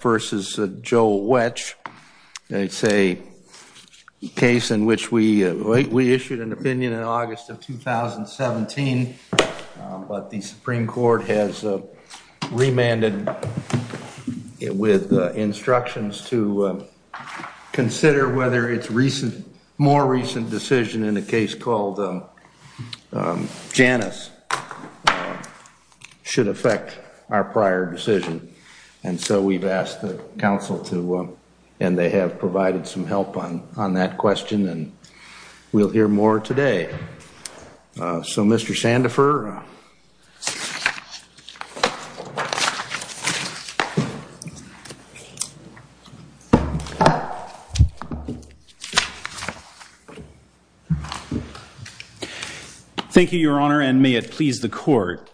v. Joe Wetch. It's a case in which we issued an opinion in August of 2017, but the Supreme Court has remanded it with instructions to consider whether its more recent decision in a case called Janus should affect our prior decision. And so we've asked the council to, and they have provided some help on that question and we'll hear more today. So Mr. Fleck. Thank you your honor and may it please the court.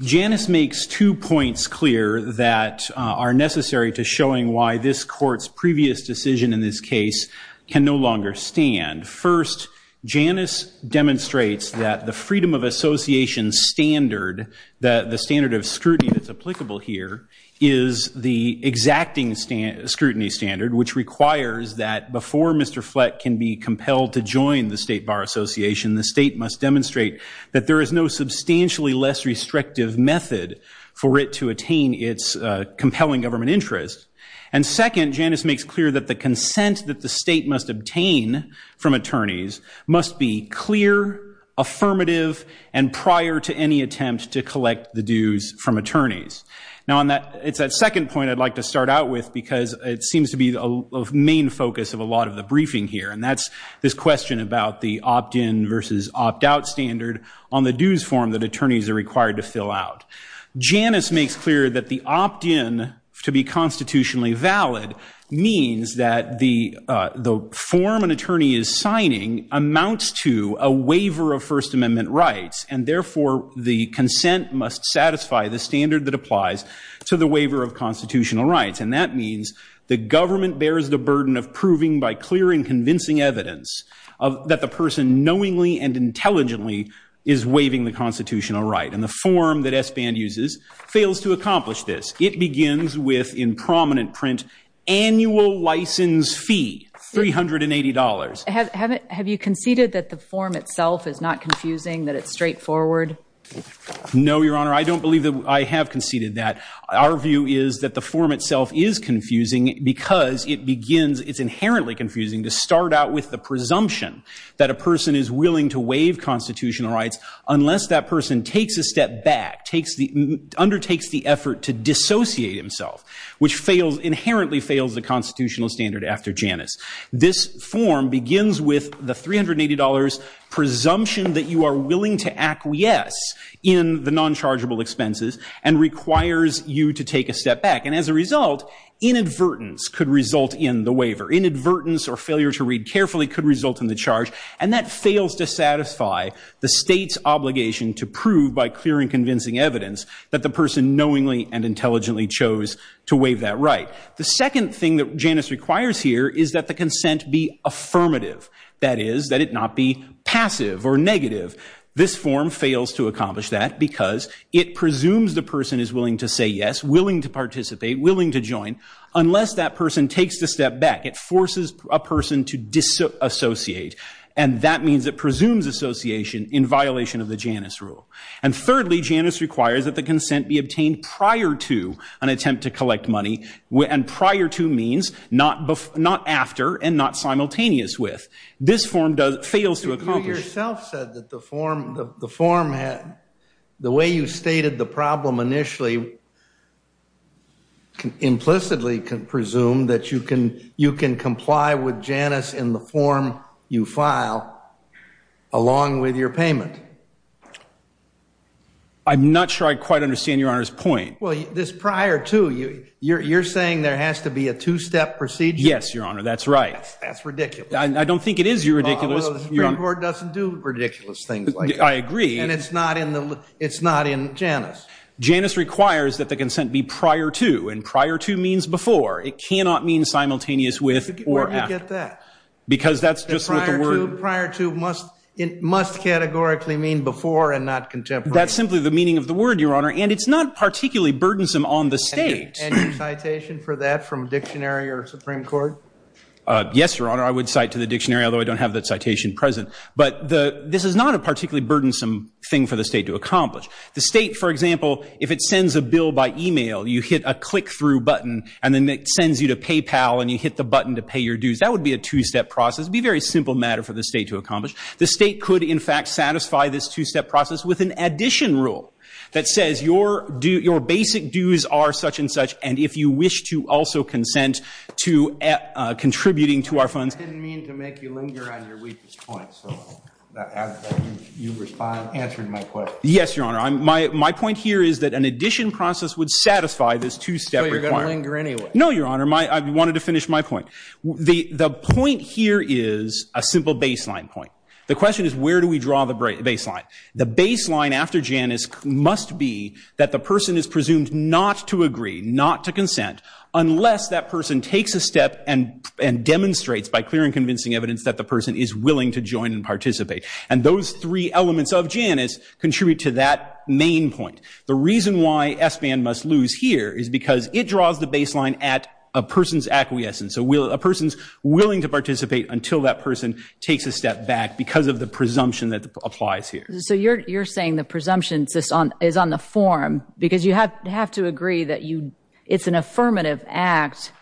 Janus makes two points clear that are necessary to showing why this court's previous decision in this case can no longer stand. First, Janus demonstrates that the freedom of association standard, the standard of scrutiny that's applicable here, is the exacting scrutiny standard which requires that before Mr. Fleck can be compelled to join the State Bar Association, the state must demonstrate that there is no substantially less restrictive method for it to attain its compelling government interest. And second, Janus makes clear that the consent that the state must obtain from attorneys must be clear, affirmative, and prior to any attempt to collect the dues from attorneys. Now on that, it's that second point I'd like to start out with because it seems to be the main focus of a lot of the briefing here and that's this question about the opt-in versus opt-out standard on the dues form that attorneys are required to fill out. Janus makes clear that the opt-in to be constitutionally valid means that the form an attorney is signing amounts to a waiver of First Amendment rights and therefore the consent must satisfy the standard that applies to the waiver of constitutional rights and that means the government bears the burden of proving by clear and convincing evidence that the person knowingly and intelligently is waiving the constitutional right. And the form that SBAN uses fails to accomplish this. It begins with, in prominent print, annual license fee, $380. Have you conceded that the form itself is not confusing, that it's straightforward? No Your Honor, I don't believe that I have conceded that. Our view is that the form itself is confusing because it begins, it's inherently confusing to start out with the presumption that a person is willing to waive constitutional rights unless that person takes a step back, undertakes the effort to dissociate himself, which inherently fails the constitutional standard after Janus. This form begins with the $380 presumption that you are willing to acquiesce in the non-chargeable expenses and requires you to take a step back and as a result, inadvertence could result in the waiver. Inadvertence or failure to read carefully could result in the charge and that fails to satisfy the state's obligation to prove by clear and convincing evidence that the person knowingly and intelligently chose to waive that right. The second thing that Janus requires here is that the consent be affirmative. That is, that it not be passive or negative. This form fails to accomplish that because it presumes the person is willing to say yes, willing to participate, willing to join, unless that person takes the step back. It forces a person to dissociate and that means it presumes association in violation of the Janus rule. And thirdly, Janus requires that the consent be obtained prior to an attempt to collect money and prior to means not after and not simultaneous with. This form fails to accomplish. You yourself said that the form, the form had, the way you stated the problem initially implicitly can presume that you can, you can comply with Janus in the form you file along with your payment. I'm not sure I quite understand Your Honor's point. Well this prior to, you're saying there has to be a two-step procedure? Yes, Your Honor, that's right. That's ridiculous. I don't think it is, Your Ridiculous. Well, the Supreme Court doesn't do ridiculous things like that. I agree. And it's not in the, it's not in Janus. Janus requires that the consent be prior to and prior to means before. It cannot mean simultaneous with or after. Where do you get that? Because that's just what the word- Prior to, prior to must, must categorically mean before and not contemporary. That's simply the meaning of the word, Your Honor, and it's not particularly burdensome on the state. Any citation for that from dictionary or Supreme Court? Yes, Your Honor. I would cite to the dictionary, although I don't have that citation present. But the, this is not a particularly burdensome thing for the state to accomplish. The state, for example, if it sends a bill by email, you hit a click-through button, and then it sends you to PayPal, and you hit the button to pay your dues, that would be a two-step process. It would be a very simple matter for the state to accomplish. The state could, in fact, satisfy this two-step process with an addition rule that says your basic dues are such and such, and if you wish to also consent to contributing to our funds- I didn't mean to make you linger on your weakest point, so I'll let you respond, answer my question. Yes, Your Honor. My point here is that an addition process would satisfy this two-step requirement. So you're going to linger anyway? No, Your Honor. I wanted to finish my point. The point here is a simple baseline point. The question is where do we draw the baseline? The baseline after Janus must be that the person is presumed not to agree, not to consent, unless that person takes a step and demonstrates by clear and convincing evidence that the person is willing to join and participate. And those three elements of Janus contribute to that main point. The reason why SBAN must lose here is because it draws the baseline at a person's acquiescence, a person's willing to participate until that person takes a step back because of the presumption that applies here. So you're saying the presumption is on the form because you have to agree that it's an affirmative act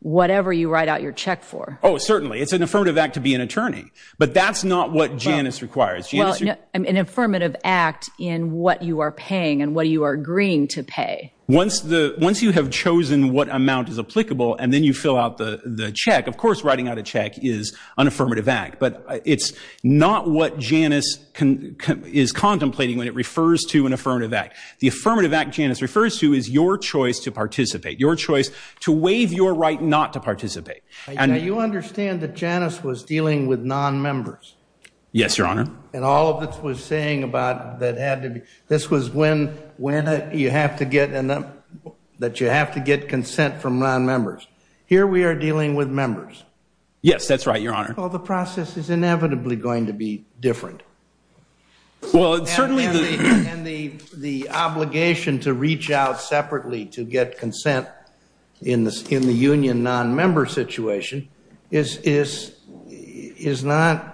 whatever you write out your check for. Oh, certainly. It's an affirmative act to be an attorney. But that's not what Janus requires. Well, an affirmative act in what you are paying and what you are agreeing to pay. Once you have chosen what amount is applicable and then you fill out the check, of course writing out a check is an affirmative act. But it's not what Janus is contemplating when it refers to an affirmative act. The affirmative act Janus refers to is your choice to participate, your choice to waive your right not to participate. Now, you understand that Janus was dealing with nonmembers. Yes, Your Honor. And all of this was saying about that had to be, this was when you have to get consent from nonmembers. Here we are dealing with members. Yes, that's right, Your Honor. Well, the process is inevitably going to be different. Well, certainly. And the obligation to reach out separately to get consent in the union nonmember situation is not.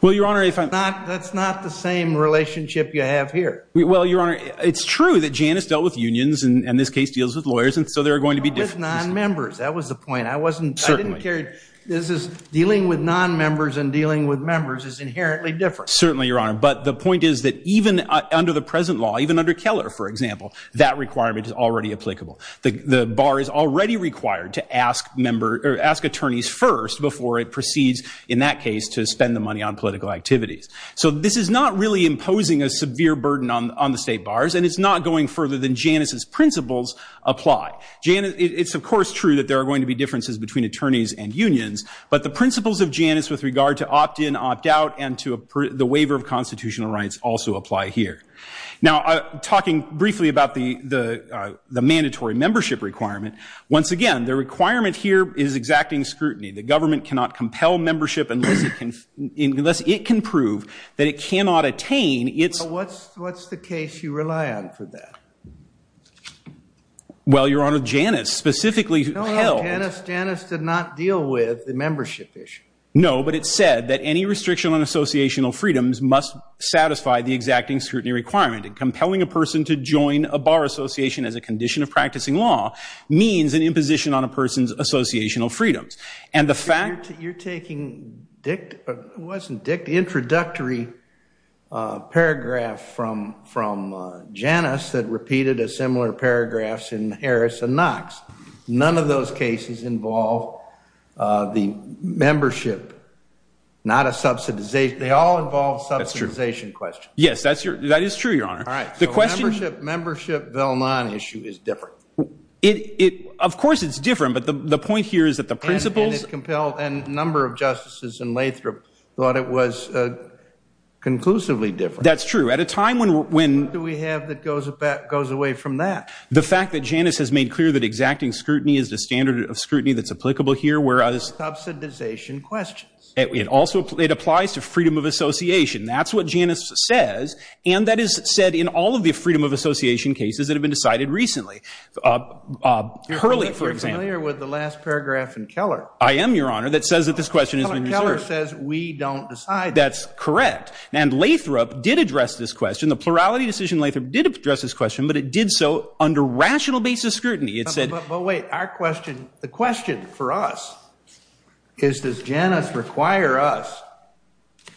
Well, Your Honor, if I'm not, that's not the same relationship you have here. Well, Your Honor, it's true that Janus dealt with unions and this case deals with lawyers. And so there are going to be differences. With nonmembers. That was the point. I wasn't, I didn't care. This is dealing with nonmembers and dealing with members is inherently different. Certainly, Your Honor. But the point is that even under the present law, even under Keller, for example, that requirement is already applicable. The bar is already required to ask member or ask attorneys first before it proceeds in that case to spend the money on political activities. So this is not really imposing a severe burden on the state bars. And it's not going further than Janus's principles apply. Janus, it's of course true that there are going to be differences between attorneys and unions, but the principles of Janus with regard to opt in, opt out, and to the waiver of constitutional rights also apply here. Now, talking briefly about the mandatory membership requirement. Once again, the requirement here is exacting scrutiny. The government cannot compel membership unless it can prove that it cannot attain its. What's the case you rely on for that? Well, Your Honor, Janus specifically held. Janus did not deal with the membership issue. No, but it said that any restriction on associational freedoms must satisfy the exacting scrutiny requirement. And compelling a person to join a bar association as a condition of practicing law means an imposition on a person's associational freedoms. And the fact. You're taking Dick, it wasn't Dick, the introductory paragraph from Janus that repeated a similar paragraph in Harris and Knox. None of those cases involve the membership, not a subsidization. They all involve subsidization questions. Yes, that is true, Your Honor. All right. So the membership Vailnon issue is different. Of course, it's different. But the point here is that the principles. And a number of justices in Lathrop thought it was conclusively different. That's true. At a time when. What do we have that goes away from that? The fact that Janus has made clear that exacting scrutiny is the standard of scrutiny that's applicable here, whereas. Subsidization questions. It also, it applies to freedom of association. That's what Janus says. And that is said in all of the freedom of association cases that have been decided recently. Hurley, for example. You're familiar with the last paragraph in Keller. I am, Your Honor. That says that this question has been reserved. Keller says we don't decide. That's correct. And Lathrop did address this question. The plurality decision, Lathrop did address this question, but it did so under rational basis scrutiny. It said. But wait, our question. The question for us is, does Janus require us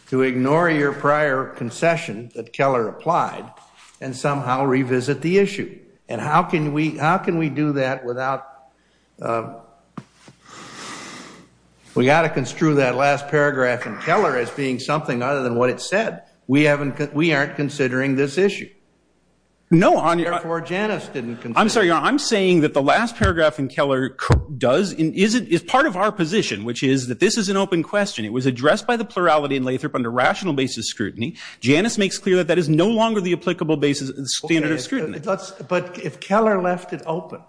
to ignore your prior concession that Keller applied and somehow revisit the issue? And how can we do that without. We got to construe that last paragraph in Keller as being something other than what it said. We haven't, we aren't considering this issue. No, Your Honor. Therefore, Janus didn't. I'm sorry, Your Honor. I'm saying that the last paragraph in Keller does, is part of our position, which is that this is an open question. It was addressed by the plurality in Lathrop under rational basis scrutiny. Janus makes clear that that is no longer the applicable basis, standard of scrutiny. But if Keller left it open,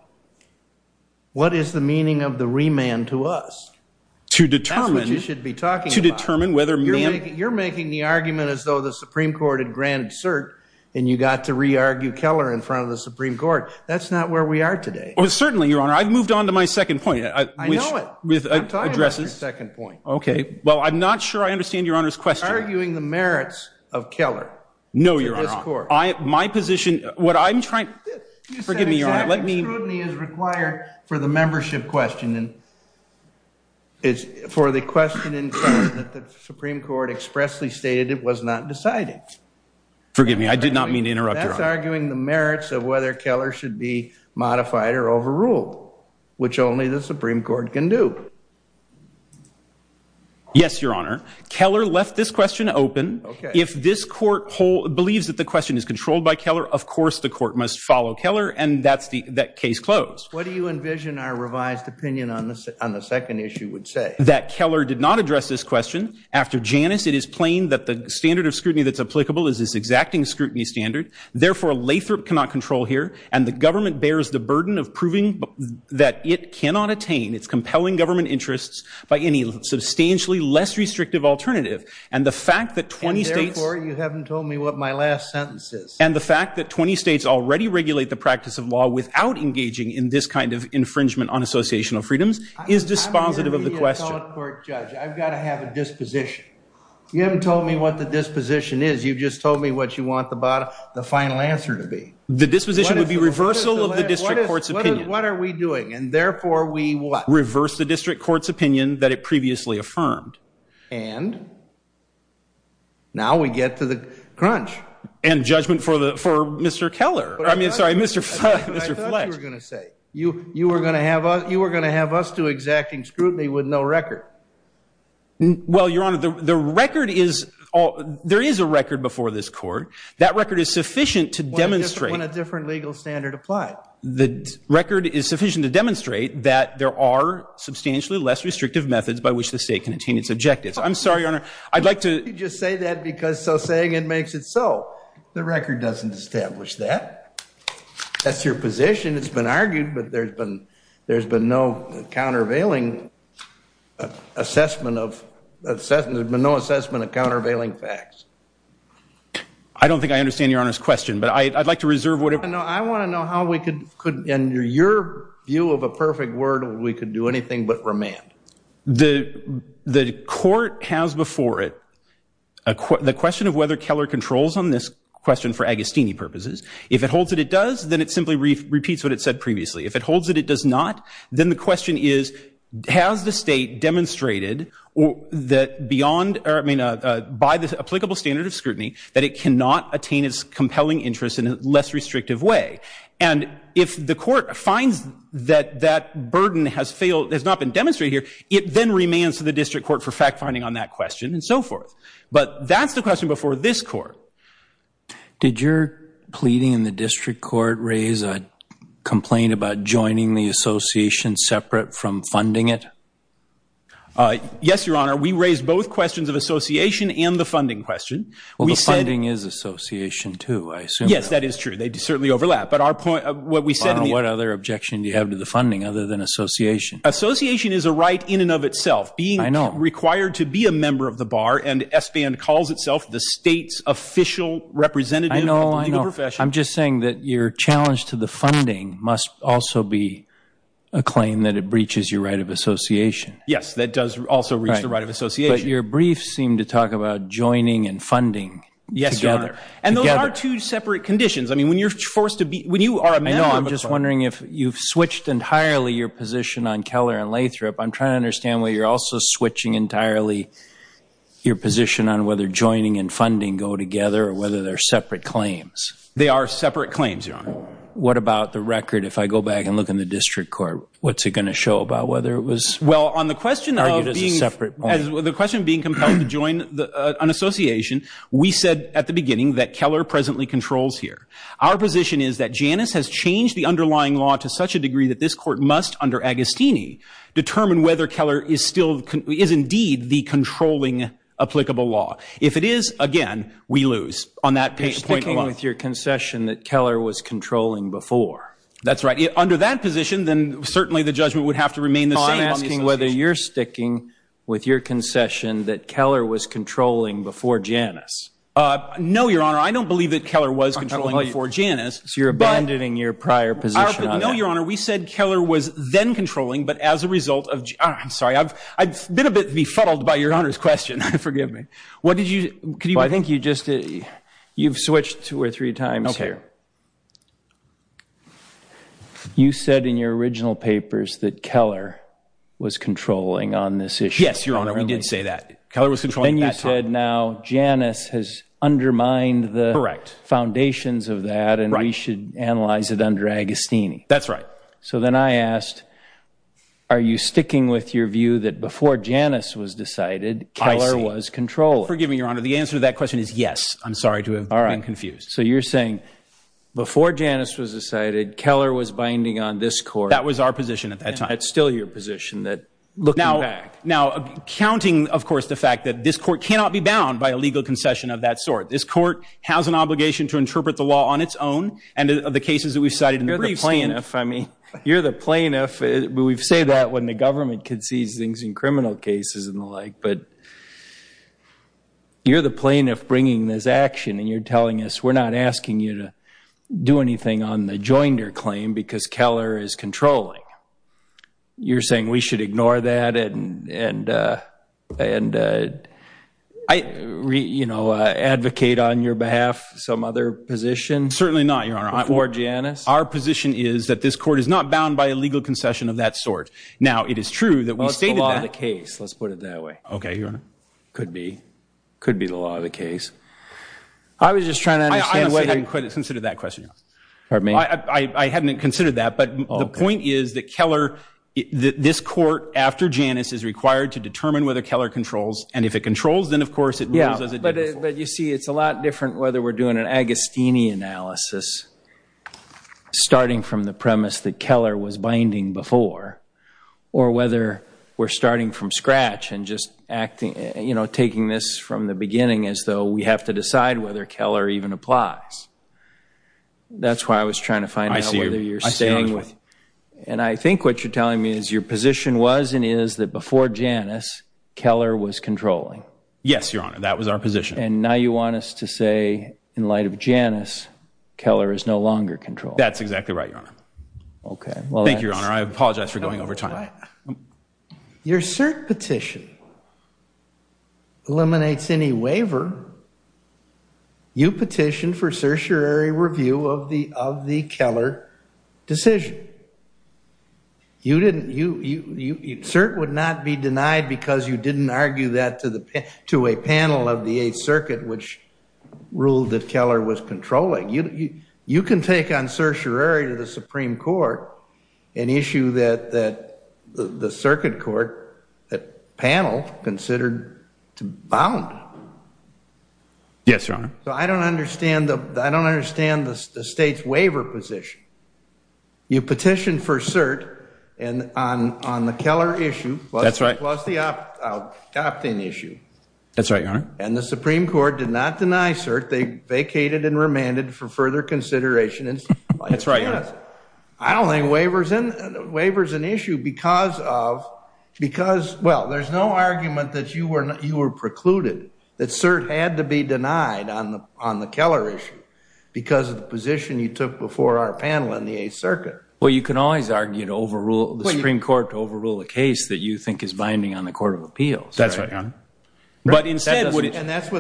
what is the meaning of the remand to us? To determine. That's what you should be talking about. To determine whether. You're making the argument as though the Supreme Court had granted cert and you got to re-argue Keller in front of the Supreme Court. That's not where we are today. Certainly, Your Honor. I've moved on to my second point. I know it. With addresses. I'm talking about your second point. Okay. Well, I'm not sure I understand Your Honor's question. Arguing the merits of Keller. No, Your Honor. My position. What I'm trying to. Forgive me, Your Honor. Let me. Scrutiny is required for the membership question. And it's for the question in front that the Supreme Court expressly stated it was not decided. Forgive me. I did not mean to interrupt. That's arguing the merits of whether Keller should be modified or overruled, which only the Supreme Court can do. Yes, Your Honor. Keller left this question open. If this court believes that the question is controlled by Keller, of course, the court must follow Keller. And that's the case closed. What do you envision our revised opinion on the second issue would say? That Keller did not address this question. After Janus, it is plain that the standard of scrutiny that's applicable is this exacting scrutiny standard. Therefore, Lathrop cannot control here. And the government bears the burden of proving that it cannot attain its compelling government interests by any substantially less restrictive alternative. And the fact that 20 states. Therefore, you haven't told me what my last sentence is. And the fact that 20 states already regulate the practice of law without engaging in this kind of infringement on associational freedoms is dispositive of the question. I've got to have a disposition. You haven't told me what the disposition is. You've just told me what you want the final answer to be. The disposition would be reversal of the district court's opinion. What are we doing? And therefore, we what? Reverse the district court's opinion that it previously affirmed. And now we get to the crunch. And judgment for Mr. Keller. I mean, sorry, Mr. Fletch. I thought you were going to say you were going to have us do exacting scrutiny with no record. Well, Your Honor, the record is. There is a record before this court. That record is sufficient to demonstrate. When a different legal standard applied. The record is sufficient to demonstrate that there are substantially less restrictive methods by which the state can attain its objectives. I'm sorry, Your Honor. I'd like to just say that because so saying it makes it so. The record doesn't establish that. That's your position. It's been argued. But there's been there's been no countervailing assessment of assessment. There's been no assessment of countervailing facts. I don't think I understand Your Honor's question. But I'd like to reserve what I know. I want to know how we could and your view of a perfect word. We could do anything but remand. The court has before it the question of whether Keller controls on this question for Agostini purposes. If it holds that it does, then it simply repeats what it said previously. If it holds that it does not, then the question is, has the state demonstrated that beyond or I mean by the applicable standard of scrutiny that it cannot attain its compelling interest in a less restrictive way? And if the court finds that that burden has failed, has not been demonstrated here, it then remains to the district court for fact finding on that question and so forth. But that's the question before this court. Did your pleading in the district court raise a complaint about joining the association separate from funding it? Yes, Your Honor. We raised both questions of association and the funding question. Well, the funding is association too, I assume. Yes, that is true. They certainly overlap. But what other objection do you have to the funding other than association? Association is a right in and of itself. Being required to be a member of the bar and SBAN calls itself the state's official representative of the legal profession. I'm just saying that your challenge to the funding must also be a claim that it breaches your right of association. Yes, that does also reach the right of association. But your brief seemed to talk about joining and funding together. And those are two separate conditions. I mean, when you're forced to be, when you are a member. I know. I'm just wondering if you've switched entirely your position on Keller and Lathrop. I'm trying to understand why you're also switching entirely your position on whether joining and funding go together or whether they're separate claims. They are separate claims, Your Honor. What about the record? If I go back and look in the district court, what's it going to show about whether it was? Well, on the question of being, the question of being compelled to join an association, we said at the beginning that Keller presently controls here. Our position is that Janus has changed the underlying law to such a degree that this court must, under Agostini, determine whether Keller is still, is indeed the controlling applicable law. If it is, again, we lose on that point. You're sticking with your concession that Keller was controlling before. That's right. Under that position, then certainly the judgment would have to remain the same. So I'm asking whether you're sticking with your concession that Keller was controlling before Janus. No, Your Honor. I don't believe that Keller was controlling before Janus. So you're abandoning your prior position on that? No, Your Honor. We said Keller was then controlling, but as a result of, I'm sorry, I've been a bit befuddled by Your Honor's question. Forgive me. What did you, could you? Well, I think you just, you've switched two or three times here. You said in your original papers that Keller was controlling on this issue. Yes, Your Honor. We did say that. Keller was controlling at that time. Now Janus has undermined the foundations of that, and we should analyze it under Agostini. That's right. So then I asked, are you sticking with your view that before Janus was decided, Keller was controlling? Forgive me, Your Honor. The answer to that question is yes. I'm sorry to have been confused. So you're saying before Janus was decided, Keller was binding on this court. That was our position at that time. It's still your position that looking back. Now, counting, of course, the fact that this court cannot be bound by a legal concession of that sort. This court has an obligation to interpret the law on its own, and of the cases that we've cited in the briefs. You're the plaintiff, I mean. You're the plaintiff, but we've said that when the government concedes things in criminal cases and the like. But you're the plaintiff bringing this action, and you're telling us we're not asking you to do anything on the Joinder claim because Keller is controlling. You're saying we should ignore that and advocate on your behalf some other position? Certainly not, Your Honor. Before Janus? Our position is that this court is not bound by a legal concession of that sort. Now, it is true that we stated that. Well, it's the law of the case. Let's put it that way. OK, Your Honor. Could be. Could be the law of the case. I was just trying to understand whether you could consider that question. Pardon me? I hadn't considered that. The point is that Keller, this court after Janus, is required to determine whether Keller controls. And if it controls, then, of course, it moves as it did before. But you see, it's a lot different whether we're doing an Agostini analysis starting from the premise that Keller was binding before, or whether we're starting from scratch and just taking this from the beginning as though we have to decide whether Keller even applies. That's why I was trying to find out whether you're saying And I think what you're telling me is your position was and is that before Janus, Keller was controlling. Yes, Your Honor. That was our position. And now you want us to say, in light of Janus, Keller is no longer controlling. That's exactly right, Your Honor. OK. Thank you, Your Honor. I apologize for going over time. Your cert petition eliminates any waiver. Your Honor, you petitioned for certiorari review of the Keller decision. Cert would not be denied because you didn't argue that to a panel of the Eighth Circuit, which ruled that Keller was controlling. You can take on certiorari to the Supreme Court an issue that the Circuit Court panel considered to bound. Yes, Your Honor. So I don't understand the state's waiver position. You petitioned for cert on the Keller issue. That's right. Plus the opt-in issue. That's right, Your Honor. And the Supreme Court did not deny cert. That's right, Your Honor. I don't think waiver's an issue because of, well, there's no argument that you were precluded, that cert had to be denied on the Keller issue because of the position you took before our panel in the Eighth Circuit. Well, you can always argue to overrule, the Supreme Court to overrule a case that you think is binding on the Court of Appeals. That's right, Your Honor. And that's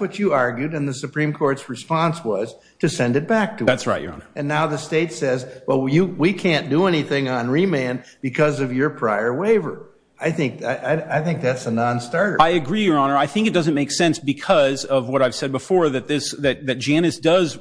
what you argued. And the Supreme Court's response was to send it back to us. That's right, Your Honor. And now the state says, well, we can't do anything on remand because of your prior waiver. I think that's a nonstarter. I agree, Your Honor. I think it doesn't make sense because of what I've said before, that Janus does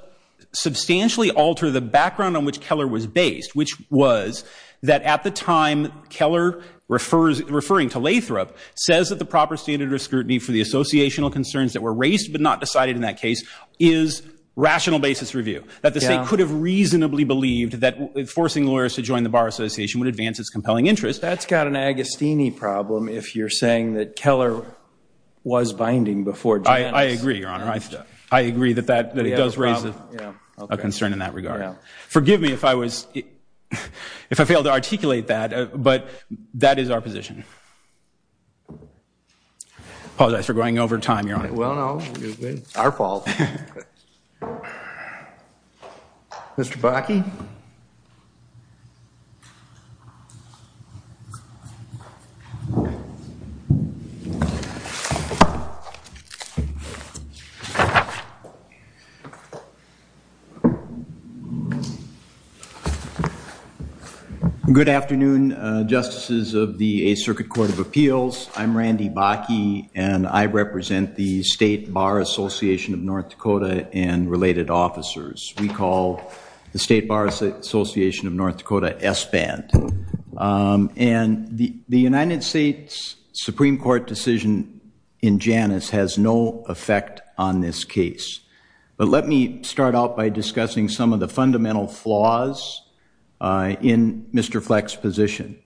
substantially alter the background on which Keller was based, which was that at the time Keller, referring to Lathrop, says that the proper standard of scrutiny for the associational concerns that were raised but not decided in that case is rational basis review, that the state could have reasonably believed that forcing lawyers to join the Bar Association would advance its compelling interest. That's got an Agostini problem if you're saying that Keller was binding before Janus. I agree, Your Honor. I agree that it does raise a concern in that regard. Forgive me if I failed to articulate that, but that is our position. Apologize for going over time, Your Honor. Well, no, it's our fault. Mr. Bakke? Good afternoon, Justices of the Eighth Circuit Court of Appeals. I'm Randy Bakke, and I represent the State Bar Association of North Dakota and related officers. We call the State Bar Association of North Dakota SBAND, and the United States Supreme Court decision in Janus has no effect on this case, but let me start out by discussing some of the fundamental flaws in Mr. Fleck's position.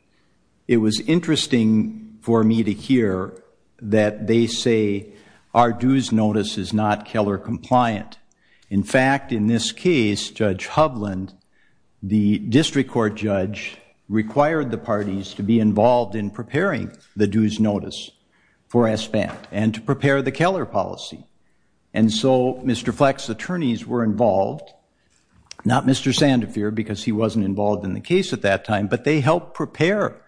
It was interesting for me to hear that they say Ardu's notice is not Keller compliant. In fact, in this case, Judge Hovland, the district court judge required the parties to be involved in preparing the dues notice for SBAND and to prepare the Keller policy. And so Mr. Fleck's attorneys were involved, not Mr. Sandefur because he wasn't involved in the case at that time, but they helped prepare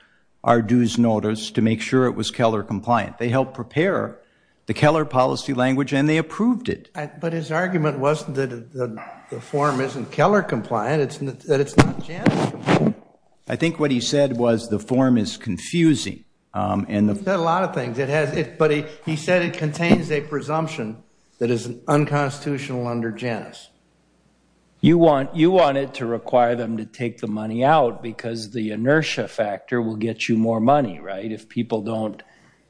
Ardu's notice to make sure it was Keller compliant. They helped prepare the Keller policy language, and they approved it. But his argument wasn't that the form isn't Keller compliant. It's that it's not Janus compliant. I think what he said was the form is confusing. And he said a lot of things. It has it, but he said it contains a presumption that is unconstitutional under Janus. You want it to require them to take the money out because the inertia factor will get you more money, right, if people don't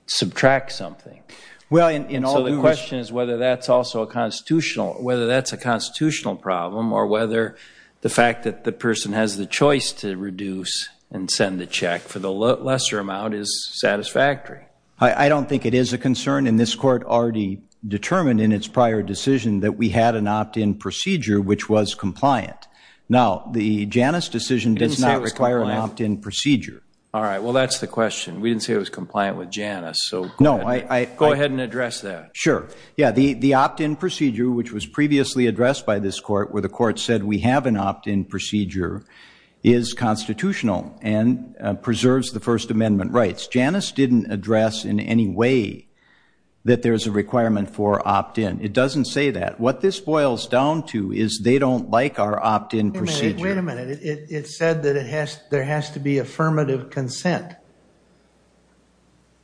subtract something. Well, and so the question is whether that's also a constitutional, whether that's a constitutional problem or whether the fact that the person has the choice to reduce and send the check for the lesser amount is satisfactory. I don't think it is a concern, and this court already determined in its prior decision that we had an opt-in procedure which was compliant. Now, the Janus decision does not require an opt-in procedure. All right, well, that's the question. We didn't say it was compliant with Janus, so go ahead. Go ahead and address that. Sure. Yeah, the opt-in procedure which was previously addressed by this court where the court said we have an opt-in procedure is constitutional and preserves the First Amendment rights. Janus didn't address in any way that there's a requirement for opt-in. It doesn't say that. What this boils down to is they don't like our opt-in procedure. Wait a minute. It said that there has to be affirmative consent.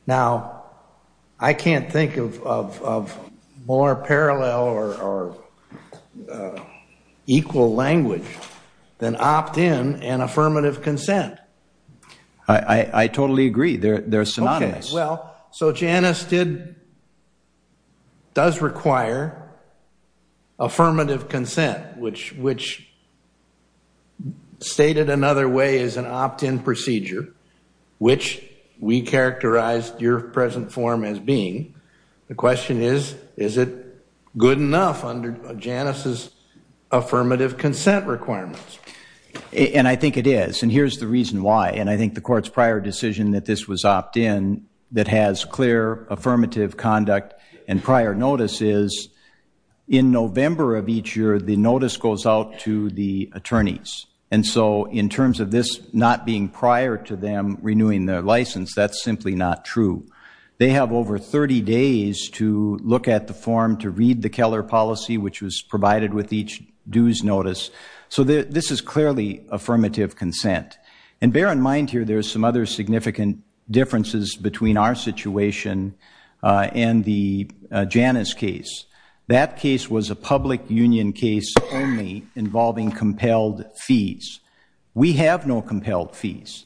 Now, I can't think of more parallel or equal language than opt-in and affirmative consent. I totally agree. They're synonymous. Okay. Well, so Janus does require affirmative consent, which stated another way is an opt-in procedure. Which we characterized your present form as being. The question is, is it good enough under Janus' affirmative consent requirements? And I think it is. And here's the reason why. And I think the court's prior decision that this was opt-in that has clear affirmative conduct and prior notice is in November of each year, the notice goes out to the attorneys. And so in terms of this not being prior to them renewing their license, that's simply not true. They have over 30 days to look at the form to read the Keller policy, which was provided with each dues notice. So this is clearly affirmative consent. And bear in mind here, there's some other significant differences between our situation and the Janus case. That case was a public union case only involving compelled fees. We have no compelled fees.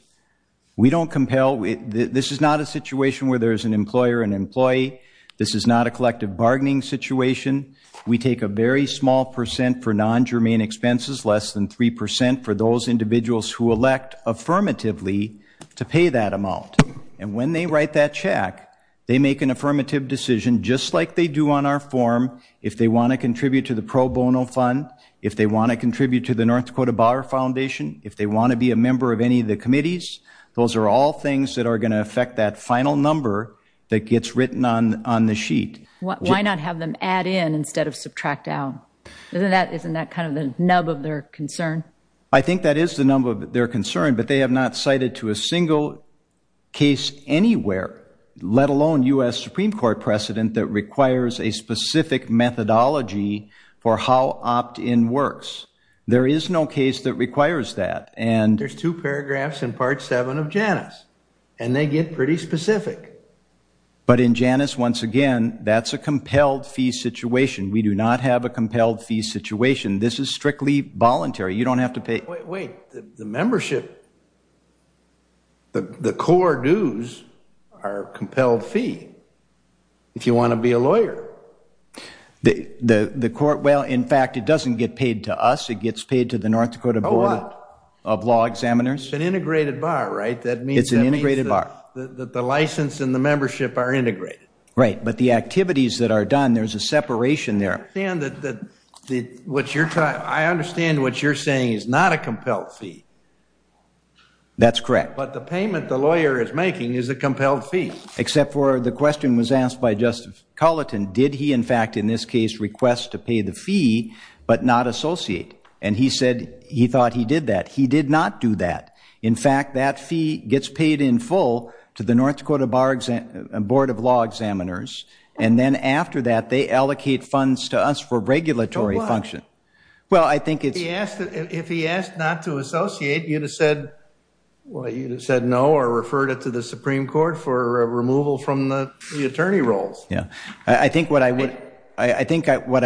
We don't compel. This is not a situation where there's an employer, an employee. This is not a collective bargaining situation. We take a very small percent for non-germane expenses, less than 3% for those individuals who elect affirmatively to pay that amount. And when they write that check, they make an affirmative decision just like they do on our form. If they want to contribute to the pro bono fund, if they want to contribute to the North Dakota Bar Foundation, if they want to be a member of any of the committees, those are all things that are going to affect that final number that gets written on the sheet. Why not have them add in instead of subtract out? Isn't that kind of the nub of their concern? I think that is the nub of their concern, but they have not cited to a single case anywhere, let alone U.S. Supreme Court precedent, that requires a specific methodology for how opt-in works. There is no case that requires that. And there's two paragraphs in part seven of Janus, and they get pretty specific. But in Janus, once again, that's a compelled fee situation. We do not have a compelled fee situation. This is strictly voluntary. You don't have to pay. Wait, the membership, the core dues are compelled fee, if you want to be a lawyer. Well, in fact, it doesn't get paid to us. It gets paid to the North Dakota Board of Law Examiners. It's an integrated bar, right? That means that the license and the membership are integrated. Right, but the activities that are done, there's a separation there. I understand what you're saying is not a compelled fee. That's correct. But the payment the lawyer is making is a compelled fee. Except for the question was asked by Justice Culleton, did he, in fact, in this case, request to pay the fee, but not associate? And he said he thought he did that. He did not do that. In fact, that fee gets paid in full to the North Dakota Board of Law Examiners. And then after that, they allocate funds to us for regulatory function. Well, I think it's... If he asked not to associate, you'd have said, well, you'd have said no or referred it to the Supreme Court for removal from the attorney roles. Yeah, I think what I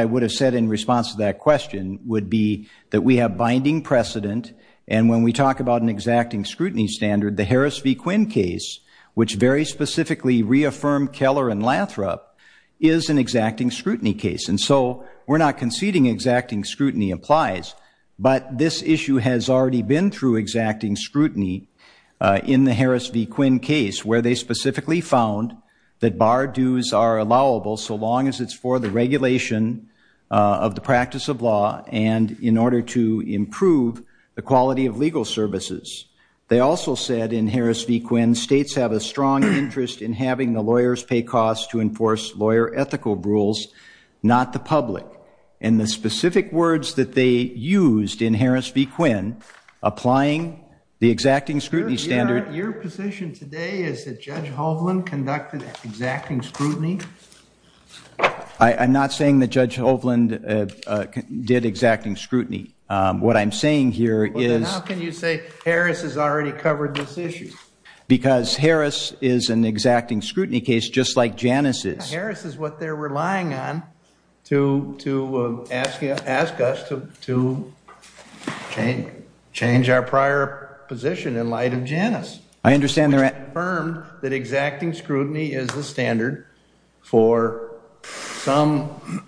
would have said in response to that question would be that we have binding precedent. And when we talk about an exacting scrutiny standard, the Harris v. Quinn case, which very specifically reaffirmed Keller and Lathrop is an exacting scrutiny case. And so we're not conceding exacting scrutiny applies. But this issue has already been through exacting scrutiny in the Harris v. Quinn case, where they specifically found that bar dues are allowable so long as it's for the regulation of the practice of law and in order to improve the quality of legal services. They also said in Harris v. Quinn, states have a strong interest in having the lawyers pay costs to enforce lawyer ethical rules, not the public. And the specific words that they used in Harris v. Quinn, applying the exacting scrutiny standard... Your position today is that Judge Hovland conducted exacting scrutiny? I'm not saying that Judge Hovland did exacting scrutiny. What I'm saying here is... Harris has already covered this issue. Because Harris is an exacting scrutiny case, just like Janus is. Harris is what they're relying on to ask us to change our prior position in light of Janus. I understand they're... Which confirmed that exacting scrutiny is the standard for some,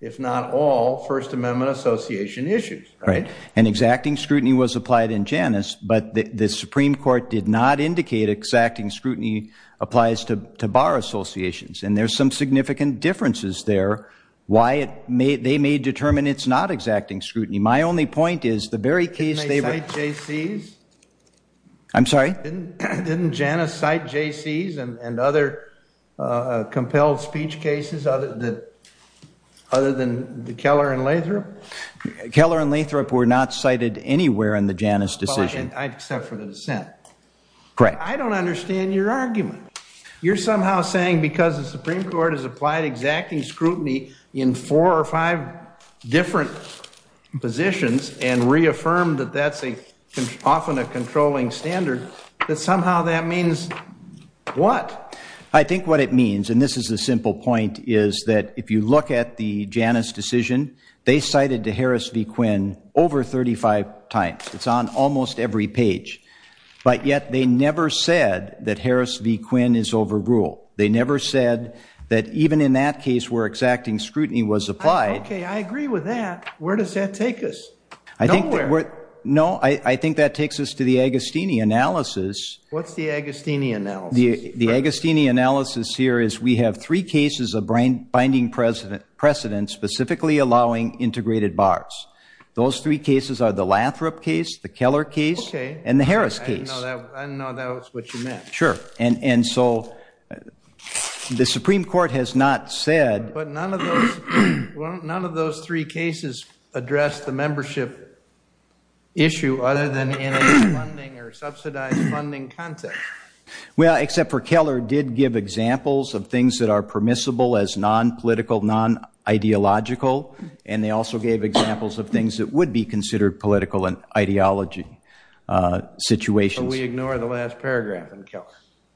if not all, First Amendment Association issues. Right. And exacting scrutiny was applied in Janus, but the Supreme Court did not indicate exacting scrutiny applies to bar associations. And there's some significant differences there, why they may determine it's not exacting scrutiny. My only point is, the very case they... Didn't they cite JCs? I'm sorry? other than Keller and Lathrop? Keller and Lathrop were not cited anywhere in the Janus decision. Except for the dissent. Correct. I don't understand your argument. You're somehow saying because the Supreme Court has applied exacting scrutiny in four or five different positions and reaffirmed that that's often a controlling standard, that somehow that means what? I think what it means, and this is a simple point, is that if you look at the Janus decision, they cited to Harris v. Quinn over 35 times. It's on almost every page. But yet they never said that Harris v. Quinn is overruled. They never said that even in that case where exacting scrutiny was applied... Okay, I agree with that. Where does that take us? I think that... Nowhere. No, I think that takes us to the Agostini analysis. What's the Agostini analysis? The Agostini analysis here is, we have three cases of binding precedent, specifically allowing integrated bars. Those three cases are the Lathrop case, the Keller case, and the Harris case. Okay, I didn't know that was what you meant. Sure. And so the Supreme Court has not said... But none of those three cases address the membership issue other than in a funding or subsidized funding context. Well, except for Keller did give examples of things that are permissible as non-political, non-ideological. And they also gave examples of things that would be considered political and ideology situations. But we ignore the last paragraph in Keller.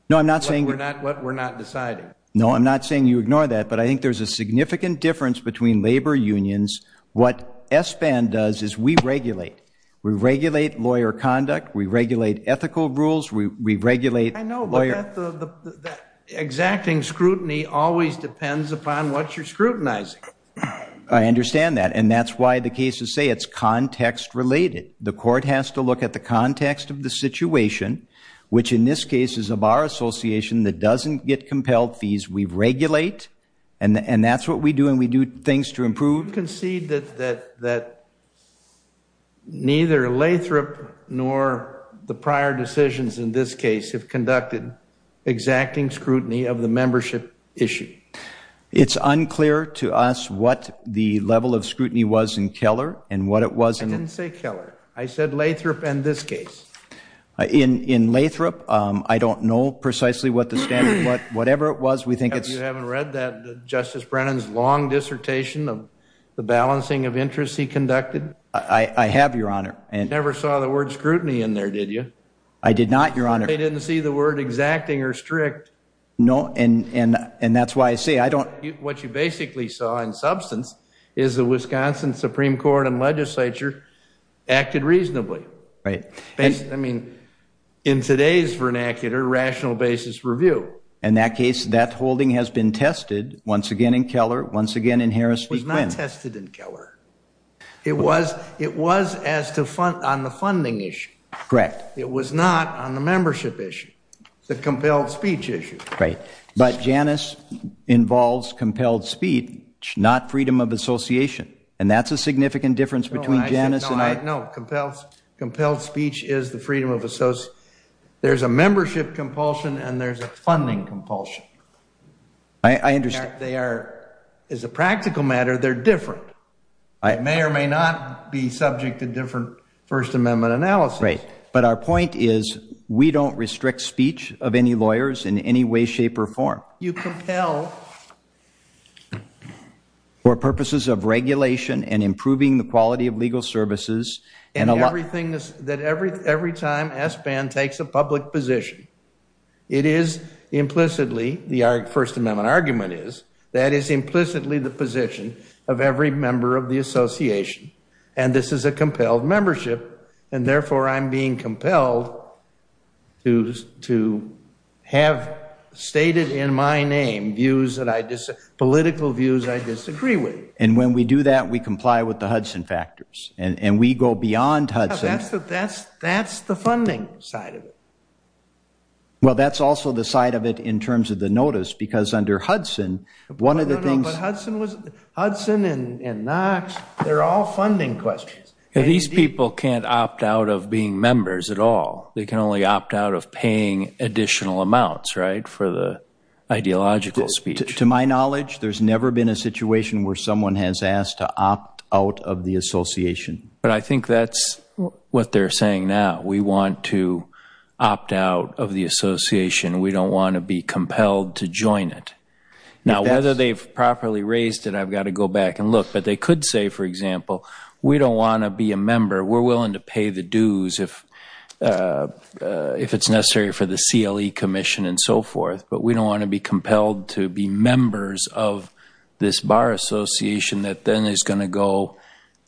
No, I'm not saying... What we're not deciding. No, I'm not saying you ignore that. But I think there's a significant difference between labor unions. What ESPAN does is we regulate. We regulate lawyer conduct. We regulate ethical rules. We regulate lawyer... The exacting scrutiny always depends upon what you're scrutinizing. I understand that. And that's why the cases say it's context-related. The court has to look at the context of the situation, which in this case is a bar association that doesn't get compelled fees. We regulate. And that's what we do. And we do things to improve. Do you concede that neither Lathrop nor the prior decisions in this case have conducted exacting scrutiny of the membership issue? It's unclear to us what the level of scrutiny was in Keller and what it was in... I didn't say Keller. I said Lathrop and this case. In Lathrop, I don't know precisely what the standard... Whatever it was, we think it's... You haven't read that Justice Brennan's long dissertation of the balancing of interests he conducted? I have, Your Honor. You never saw the word scrutiny in there, did you? I did not, Your Honor. They didn't see the word exacting or strict. No, and that's why I say I don't... What you basically saw in substance is the Wisconsin Supreme Court and legislature acted reasonably. Right. I mean, in today's vernacular, rational basis review. In that case, that holding has been tested once again in Keller, once again in Harris v. Quinn. It was not tested in Keller. It was on the funding issue. Correct. It was not on the membership issue, the compelled speech issue. Right. But Janus involves compelled speech, not freedom of association. And that's a significant difference between Janus and I... No, compelled speech is the freedom of association. There's a membership compulsion and there's a funding compulsion. I understand. They are, as a practical matter, they're different. It may or may not be subject to different First Amendment analysis. Right. Our point is we don't restrict speech of any lawyers in any way, shape, or form. You compel... For purposes of regulation and improving the quality of legal services. That every time SBAN takes a public position, it is implicitly, the First Amendment argument is, that is implicitly the position of every member of the association. And this is a compelled membership. And therefore, I'm being compelled to have stated in my name political views I disagree with. And when we do that, we comply with the Hudson factors. And we go beyond Hudson. That's the funding side of it. Well, that's also the side of it in terms of the notice, because under Hudson, one of the things... But Hudson and Knox, they're all funding questions. These people can't opt out of being members at all. They can only opt out of paying additional amounts, right? For the ideological speech. To my knowledge, there's never been a situation where someone has asked to opt out of the association. But I think that's what they're saying now. We want to opt out of the association. We don't want to be compelled to join it. Now, whether they've properly raised it, I've got to go back and look. But they could say, for example, we don't want to be a member. We're willing to pay the dues if it's necessary for the CLE Commission and so forth. But we don't want to be compelled to be members of this bar association that then is going to go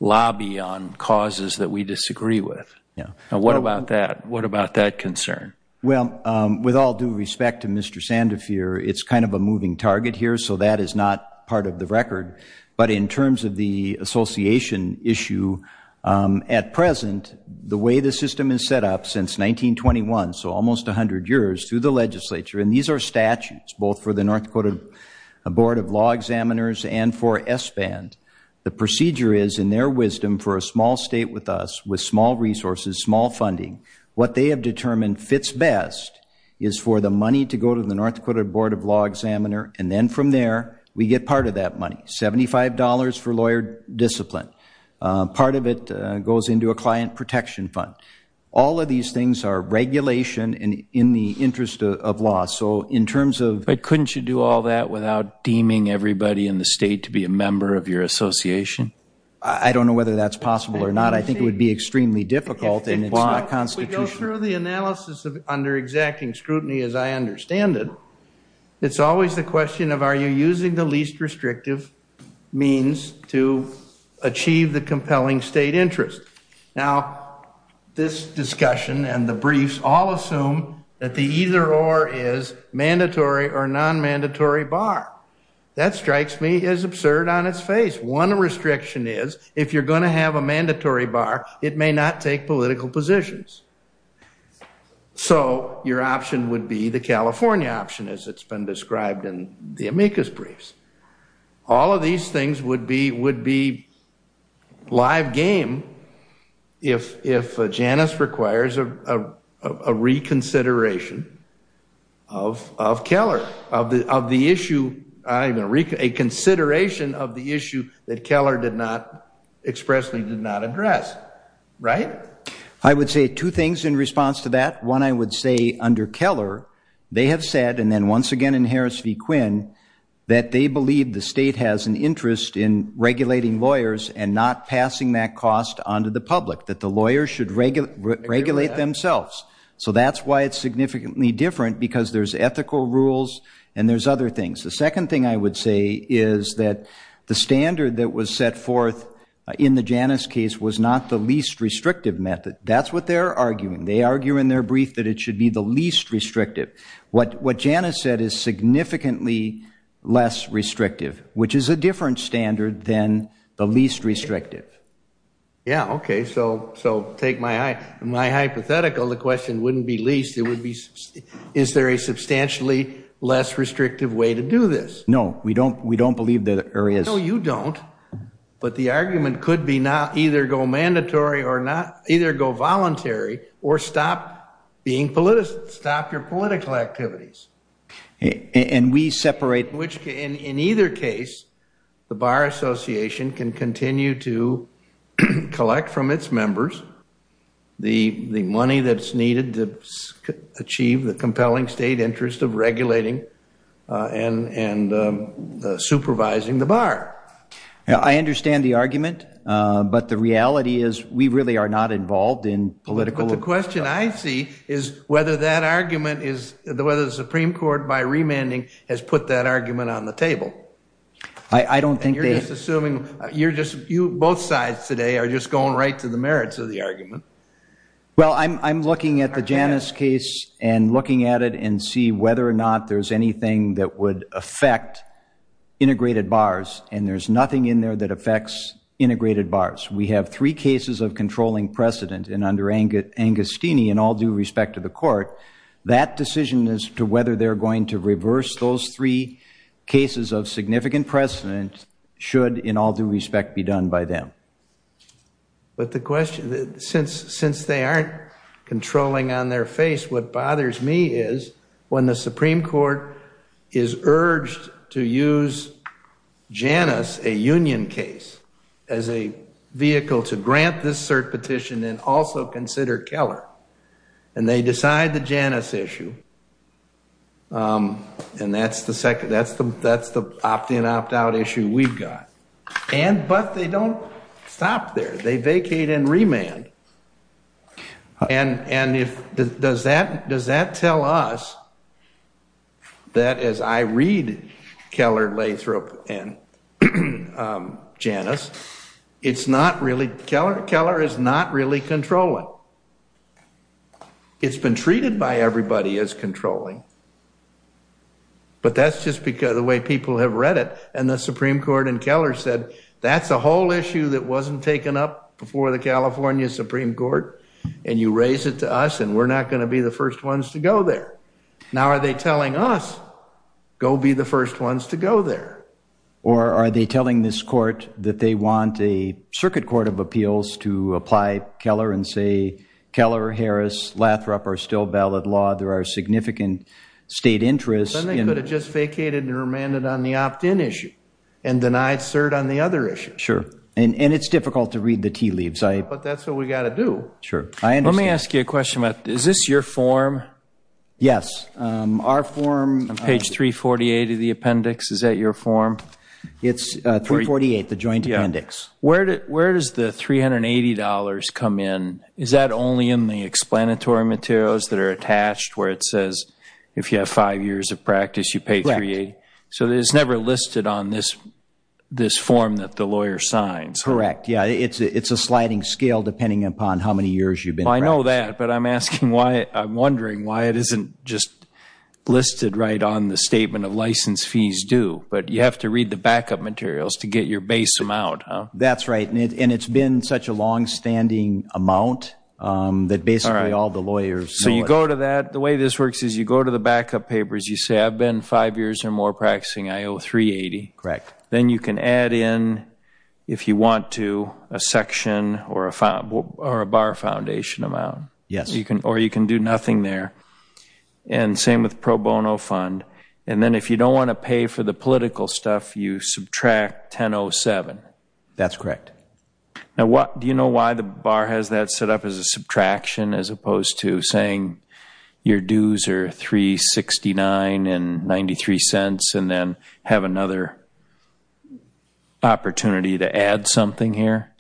lobby on causes that we disagree with. Yeah. Now, what about that? What about that concern? Well, with all due respect to Mr. Sandefur, it's kind of a moving target here. So that is not part of the record. But in terms of the association issue, at present, the way the system is set up since 1921, so almost 100 years through the legislature, and these are statutes both for the North Dakota Board of Law Examiners and for SBAND. The procedure is, in their wisdom, for a small state with us, with small resources, small funding, what they have determined fits best is for the money to go to the North Dakota Board of Law Examiner. And then from there, we get part of that money, $75 for lawyer discipline. Part of it goes into a client protection fund. All of these things are regulation and in the interest of law. So in terms of- But couldn't you do all that without deeming everybody in the state to be a member of your association? I don't know whether that's possible or not. I think it would be extremely difficult in its law constitution. If we go through the analysis under exacting scrutiny, as I understand it, it's always the question of, are you using the least restrictive means to achieve the compelling state interest? Now, this discussion and the briefs all assume that the either or is mandatory or non-mandatory bar. That strikes me as absurd on its face. One restriction is, if you're going to have a mandatory bar, it may not take political positions. So your option would be the California option, as it's been described in the amicus briefs. All of these things would be live game if Janice requires a reconsideration of Keller, of the issue, a consideration of the issue that Keller expressly did not address. Right? I would say two things in response to that. One, I would say under Keller, they have said, and then once again in Harris v. Quinn, that they believe the state has an interest in regulating lawyers and not passing that cost onto the public, that the lawyers should regulate themselves. So that's why it's significantly different, because there's ethical rules and there's other things. The second thing I would say is that the standard that was set forth in the Janice case was not the least restrictive method. That's what they're arguing. They argue in their brief that it should be the least restrictive. What Janice said is significantly less restrictive, which is a different standard than the least restrictive. Yeah, okay. So take my hypothetical, the question wouldn't be least. Is there a substantially less restrictive way to do this? No, we don't believe there is. No, you don't. But the argument could be not either go mandatory or not, either go voluntary or stop being politician, stop your political activities. And we separate... Which in either case, the Bar Association can continue to collect from its members the money that's needed to achieve the compelling state interest of regulating and supervising the bar. I understand the argument, but the reality is we really are not involved in political... The question I see is whether that argument is... Whether the Supreme Court by remanding has put that argument on the table. I don't think they... You're just assuming... You're just... You both sides today are just going right to the merits of the argument. Well, I'm looking at the Janice case and looking at it and see whether or not there's anything that would affect integrated bars. And there's nothing in there that affects integrated bars. We have three cases of controlling precedent and under Angostini, in all due respect to the court, that decision as to whether they're going to reverse those three cases of significant precedent should in all due respect be done by them. But the question... Since they aren't controlling on their face, what bothers me is when the Supreme Court is urged to use Janice, a union case, as a vehicle to grant this cert petition and also consider Keller. And they decide the Janice issue. And that's the opt-in, opt-out issue we've got. But they don't stop there. They vacate and remand. And does that tell us that as I read Keller, Lathrop, and Janice, it's not really... Keller is not really controlling. It's been treated by everybody as controlling. But that's just because the way people have read it. And the Supreme Court and Keller said, that's a whole issue that wasn't taken up before the California Supreme Court. And you raise it to us and we're not going to be the first ones to go there. Now, are they telling us, go be the first ones to go there? Or are they telling this court that they want a Circuit Court of Appeals to apply Keller and say, Keller, Harris, Lathrop are still valid law. There are significant state interests. Then they could have just vacated and remanded on the opt-in issue and denied cert on the other issue. Sure. And it's difficult to read the tea leaves. But that's what we got to do. Sure, I understand. Let me ask you a question about, is this your form? Yes. Our form, page 348 of the appendix, is that your form? It's 348, the joint appendix. Where does the $380 come in? Is that only in the explanatory materials that are attached where it says, if you have five years of practice, you pay 380? So it's never listed on this form that the lawyer signs? Correct. Yeah, it's a sliding scale depending upon how many years you've been practicing. I know that, but I'm asking why, I'm wondering why it isn't just listed right on the statement of license fees due. But you have to read the backup materials to get your base amount, huh? That's right, and it's been such a long-standing amount that basically all the lawyers know it. So you go to that, the way this works is you go to the backup papers, you say I've been five years or more practicing, I owe 380. Correct. Then you can add in, if you want to, a section or a bar foundation amount. Yes. Or you can do nothing there. And same with pro bono fund. And then if you don't want to pay for the political stuff, you subtract 1007. That's correct. Now, do you know why the bar has that set up as a subtraction as opposed to saying your dues are 369.93 and then have another opportunity to add something here?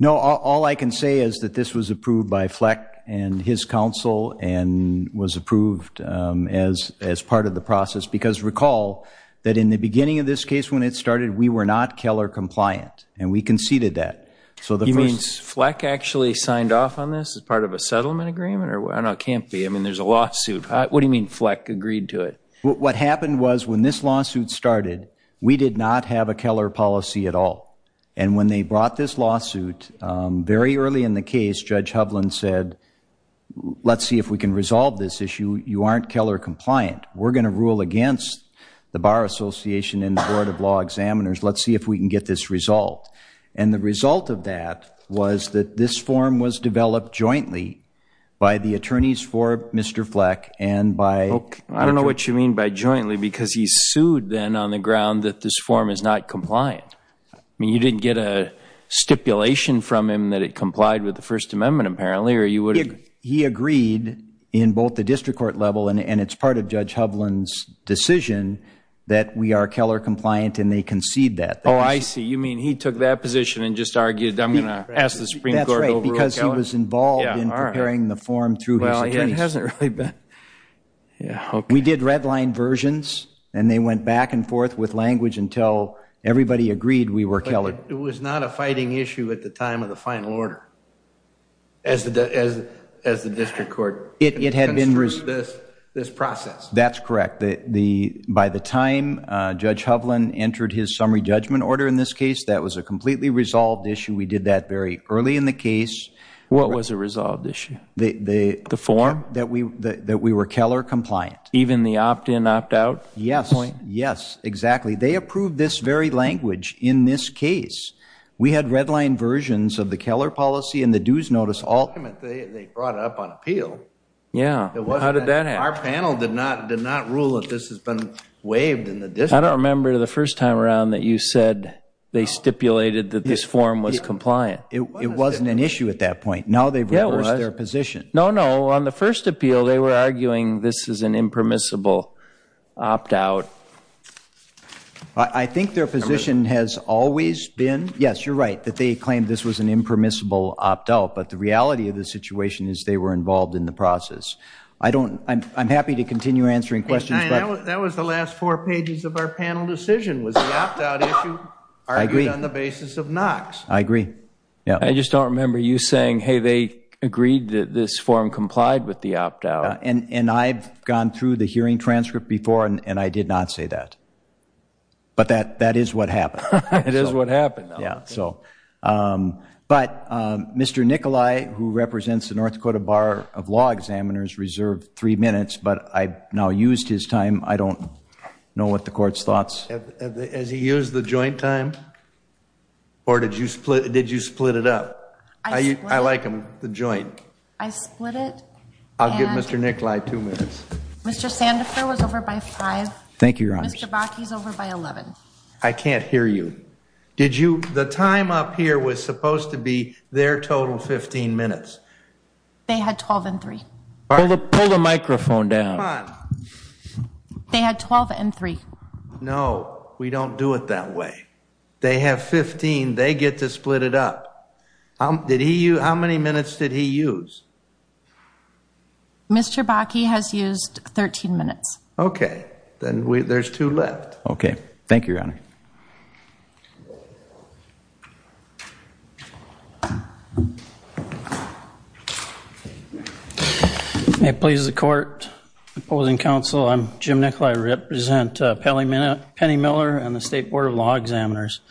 No, all I can say is that this was approved by Fleck and his counsel and was approved as part of the process. Because recall that in the beginning of this case, when it started, we were not Keller compliant and we conceded that. You mean Fleck actually signed off on this as part of a settlement agreement? No, it can't be. There's a lawsuit. What do you mean Fleck agreed to it? What happened was when this lawsuit started, we did not have a Keller policy at all. And when they brought this lawsuit, very early in the case, Judge Hovland said, let's see if we can resolve this issue. You aren't Keller compliant. We're going to rule against the Bar Association and the Board of Law Examiners. Let's see if we can get this resolved. And the result of that was that this form was developed jointly by the attorneys for Mr. Fleck and by... I don't know what you mean by jointly because he sued then on the ground that this form is not compliant. I mean, you didn't get a stipulation from him that it complied with the First Amendment, apparently, or you would have... He agreed in both the district court level and it's part of Judge Hovland's decision that we are Keller compliant and they concede that. Oh, I see. You mean he took that position and just argued, I'm going to ask the Supreme Court... That's right, because he was involved in preparing the form through his attorneys. It hasn't really been... We did red line versions and they went back and forth with language until everybody agreed we were Keller. It was not a fighting issue at the time of the final order as the district court. It had been... This process. That's correct. By the time Judge Hovland entered his summary judgment order in this case, that was a completely resolved issue. We did that very early in the case. What was a resolved issue? The form? That we were Keller compliant. Even the opt-in, opt-out point? Yes. Yes, exactly. They approved this very language in this case. We had red line versions of the Keller policy and the dues notice... They brought it up on appeal. Yeah. How did that happen? Our panel did not rule that this has been waived in the district. I don't remember the first time around that you said they stipulated that this form was compliant. It wasn't an issue at that point. Now they've reversed their position. No, no. On the first appeal, they were arguing this is an impermissible opt-out. I think their position has always been... Yes, you're right, that they claimed this was an impermissible opt-out, but the reality of the situation is they were involved in the process. I'm happy to continue answering questions, but... That was the last four pages of our panel decision was the opt-out issue argued on the basis of Knox. I agree, yeah. I just don't remember you saying, hey, they agreed that this form complied with the opt-out. And I've gone through the hearing transcript before and I did not say that, but that is what happened. It is what happened. But Mr. Nikolai, who represents the North Dakota Bar of Law Examiners reserved three minutes, but I now used his time. I don't know what the court's thoughts. Has he used the joint time? Or did you split it up? I like him, the joint. I split it. I'll give Mr. Nikolai two minutes. Mr. Sandifer was over by five. Thank you, Your Honor. Mr. Bakke is over by 11. I can't hear you. Did you... The time up here was supposed to be their total 15 minutes. They had 12 and three. Pull the microphone down. They had 12 and three. No, we don't do it that way. They have 15. They get to split it up. How many minutes did he use? Mr. Bakke has used 13 minutes. Then there's two left. Okay. Thank you, Your Honor. May it please the court. Opposing counsel. I'm Jim Nikolai. I represent Penny Miller and the State Board of Law Examiners.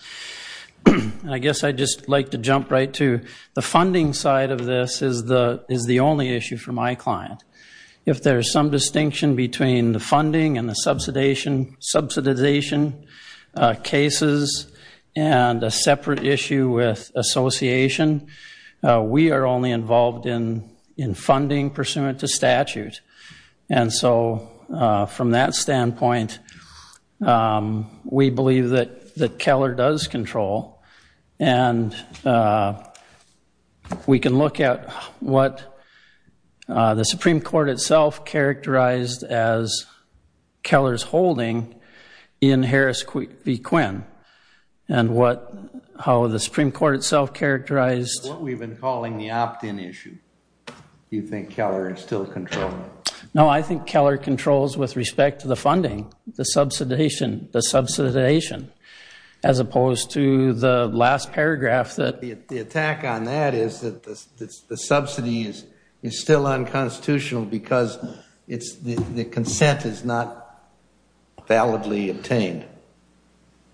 And I guess I'd just like to jump right to the funding side of this is the only issue for my client. If there's some distinction between the funding and the subsidization cases and a separate issue with association, we are only involved in funding pursuant to statute. And so from that standpoint, we believe that Keller does control and we can look at what the Supreme Court itself and how the Supreme Court itself characterized. So what we've been calling the opt-in issue, do you think Keller is still controlling? No, I think Keller controls with respect to the funding, the subsidization as opposed to the last paragraph that. The attack on that is that the subsidy is still unconstitutional because the consent is not validly obtained.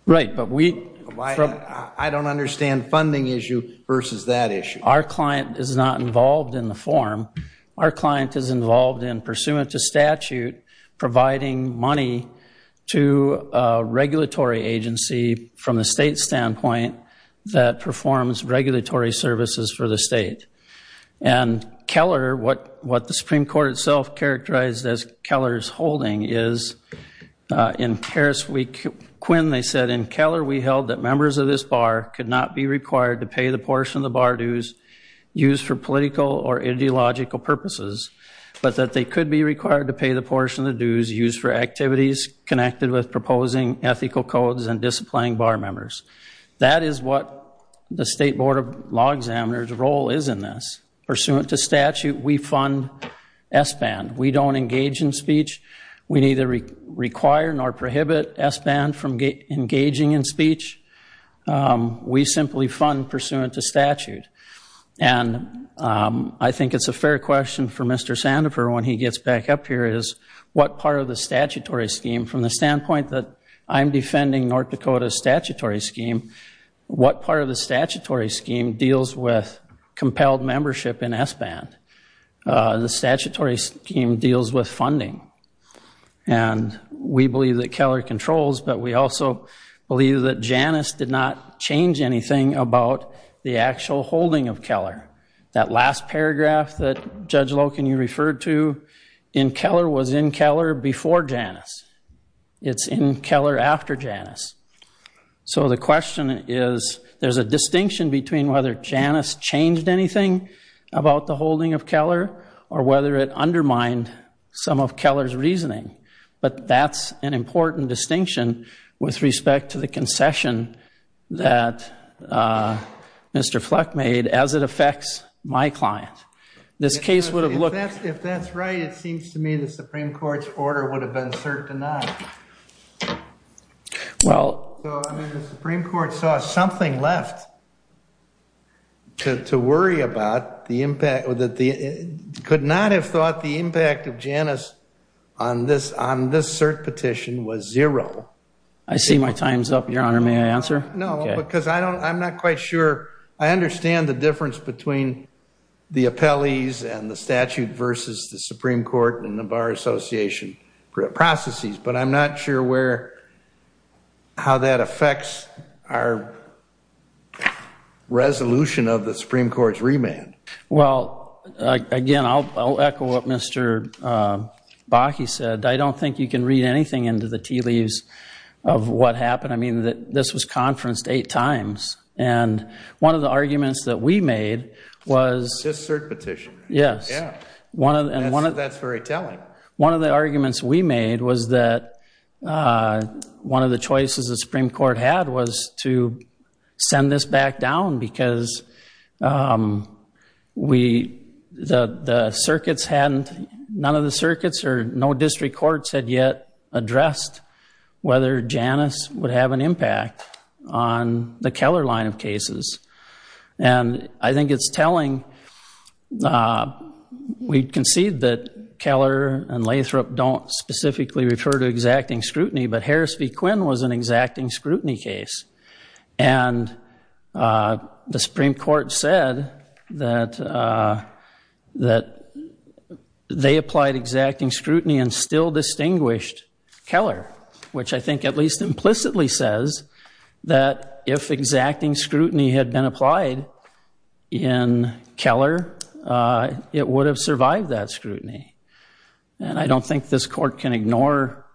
Right, but we. I don't understand funding issue versus that issue. Our client is not involved in the form. Our client is involved in pursuant to statute providing money to a regulatory agency from the state standpoint that performs regulatory services for the state. And Keller, what the Supreme Court itself characterized as Keller's holding is in Paris, Quinn, they said, in Keller, we held that members of this bar could not be required to pay the portion of the bar dues used for political or ideological purposes, but that they could be required to pay the portion of the dues used for activities connected with proposing ethical codes and disciplining bar members. That is what the State Board of Law Examiners role is in this. Pursuant to statute, we fund SBAND. We don't engage in speech. We neither require nor prohibit SBAND from engaging in speech. We simply fund pursuant to statute. And I think it's a fair question for Mr. Sandifer when he gets back up here is what part of the statutory scheme, from the standpoint that I'm defending North Dakota's statutory scheme, what part of the statutory scheme deals with compelled membership in SBAND? The statutory scheme deals with funding. And we believe that Keller controls, but we also believe that Janus did not change anything about the actual holding of Keller. That last paragraph that Judge Loken you referred to in Keller was in Keller before Janus. It's in Keller after Janus. So the question is there's a distinction between whether Janus changed anything about the holding of Keller or whether it undermined some of Keller's reasoning. But that's an important distinction with respect to the concession that Mr. Fleck made as it affects my client. This case would have looked- If that's right, it seems to me the Supreme Court's order would have been cert denied. Well- That it could not have thought the impact of Janus on this cert petition was zero. I see my time's up, Your Honor. May I answer? No, because I'm not quite sure. I understand the difference between the appellees and the statute versus the Supreme Court and the Bar Association processes. But I'm not sure how that affects our resolution of the Supreme Court's remand. Well, again, I'll echo what Mr. Bakke said. I don't think you can read anything into the tea leaves of what happened. I mean, this was conferenced eight times. And one of the arguments that we made was- This cert petition. Yes. That's very telling. One of the arguments we made was that one of the choices the Supreme Court had was to send this back down because none of the circuits or no district courts had yet addressed whether Janus would have an impact on the Keller line of cases. And I think it's telling. We concede that Keller and Lathrop don't specifically refer to exacting scrutiny, but Harris v. Quinn was an exacting scrutiny case. And the Supreme Court said that they applied exacting scrutiny and still distinguished Keller, which I think at least implicitly says that if exacting scrutiny had been applied in Keller, it would have survived that scrutiny. And I don't think this court can ignore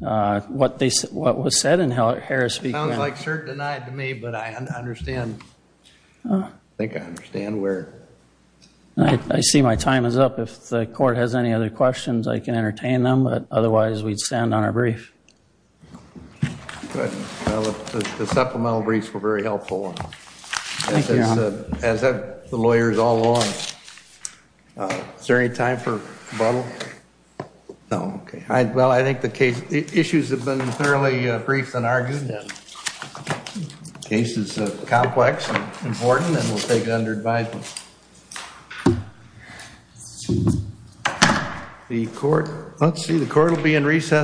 what was said in Harris v. Quinn. It sounds like cert denied to me, but I think I understand where. I see my time is up. If the court has any other questions, I can entertain them, but otherwise we'd stand on our brief. The supplemental briefs were very helpful. Thank you, Your Honor. As have the lawyers all along. Is there any time for rebuttal? No, okay. Well, I think the issues have been fairly brief and argued. The case is complex and important and we'll take it under advisement. The court, let's see, the court will be in recess.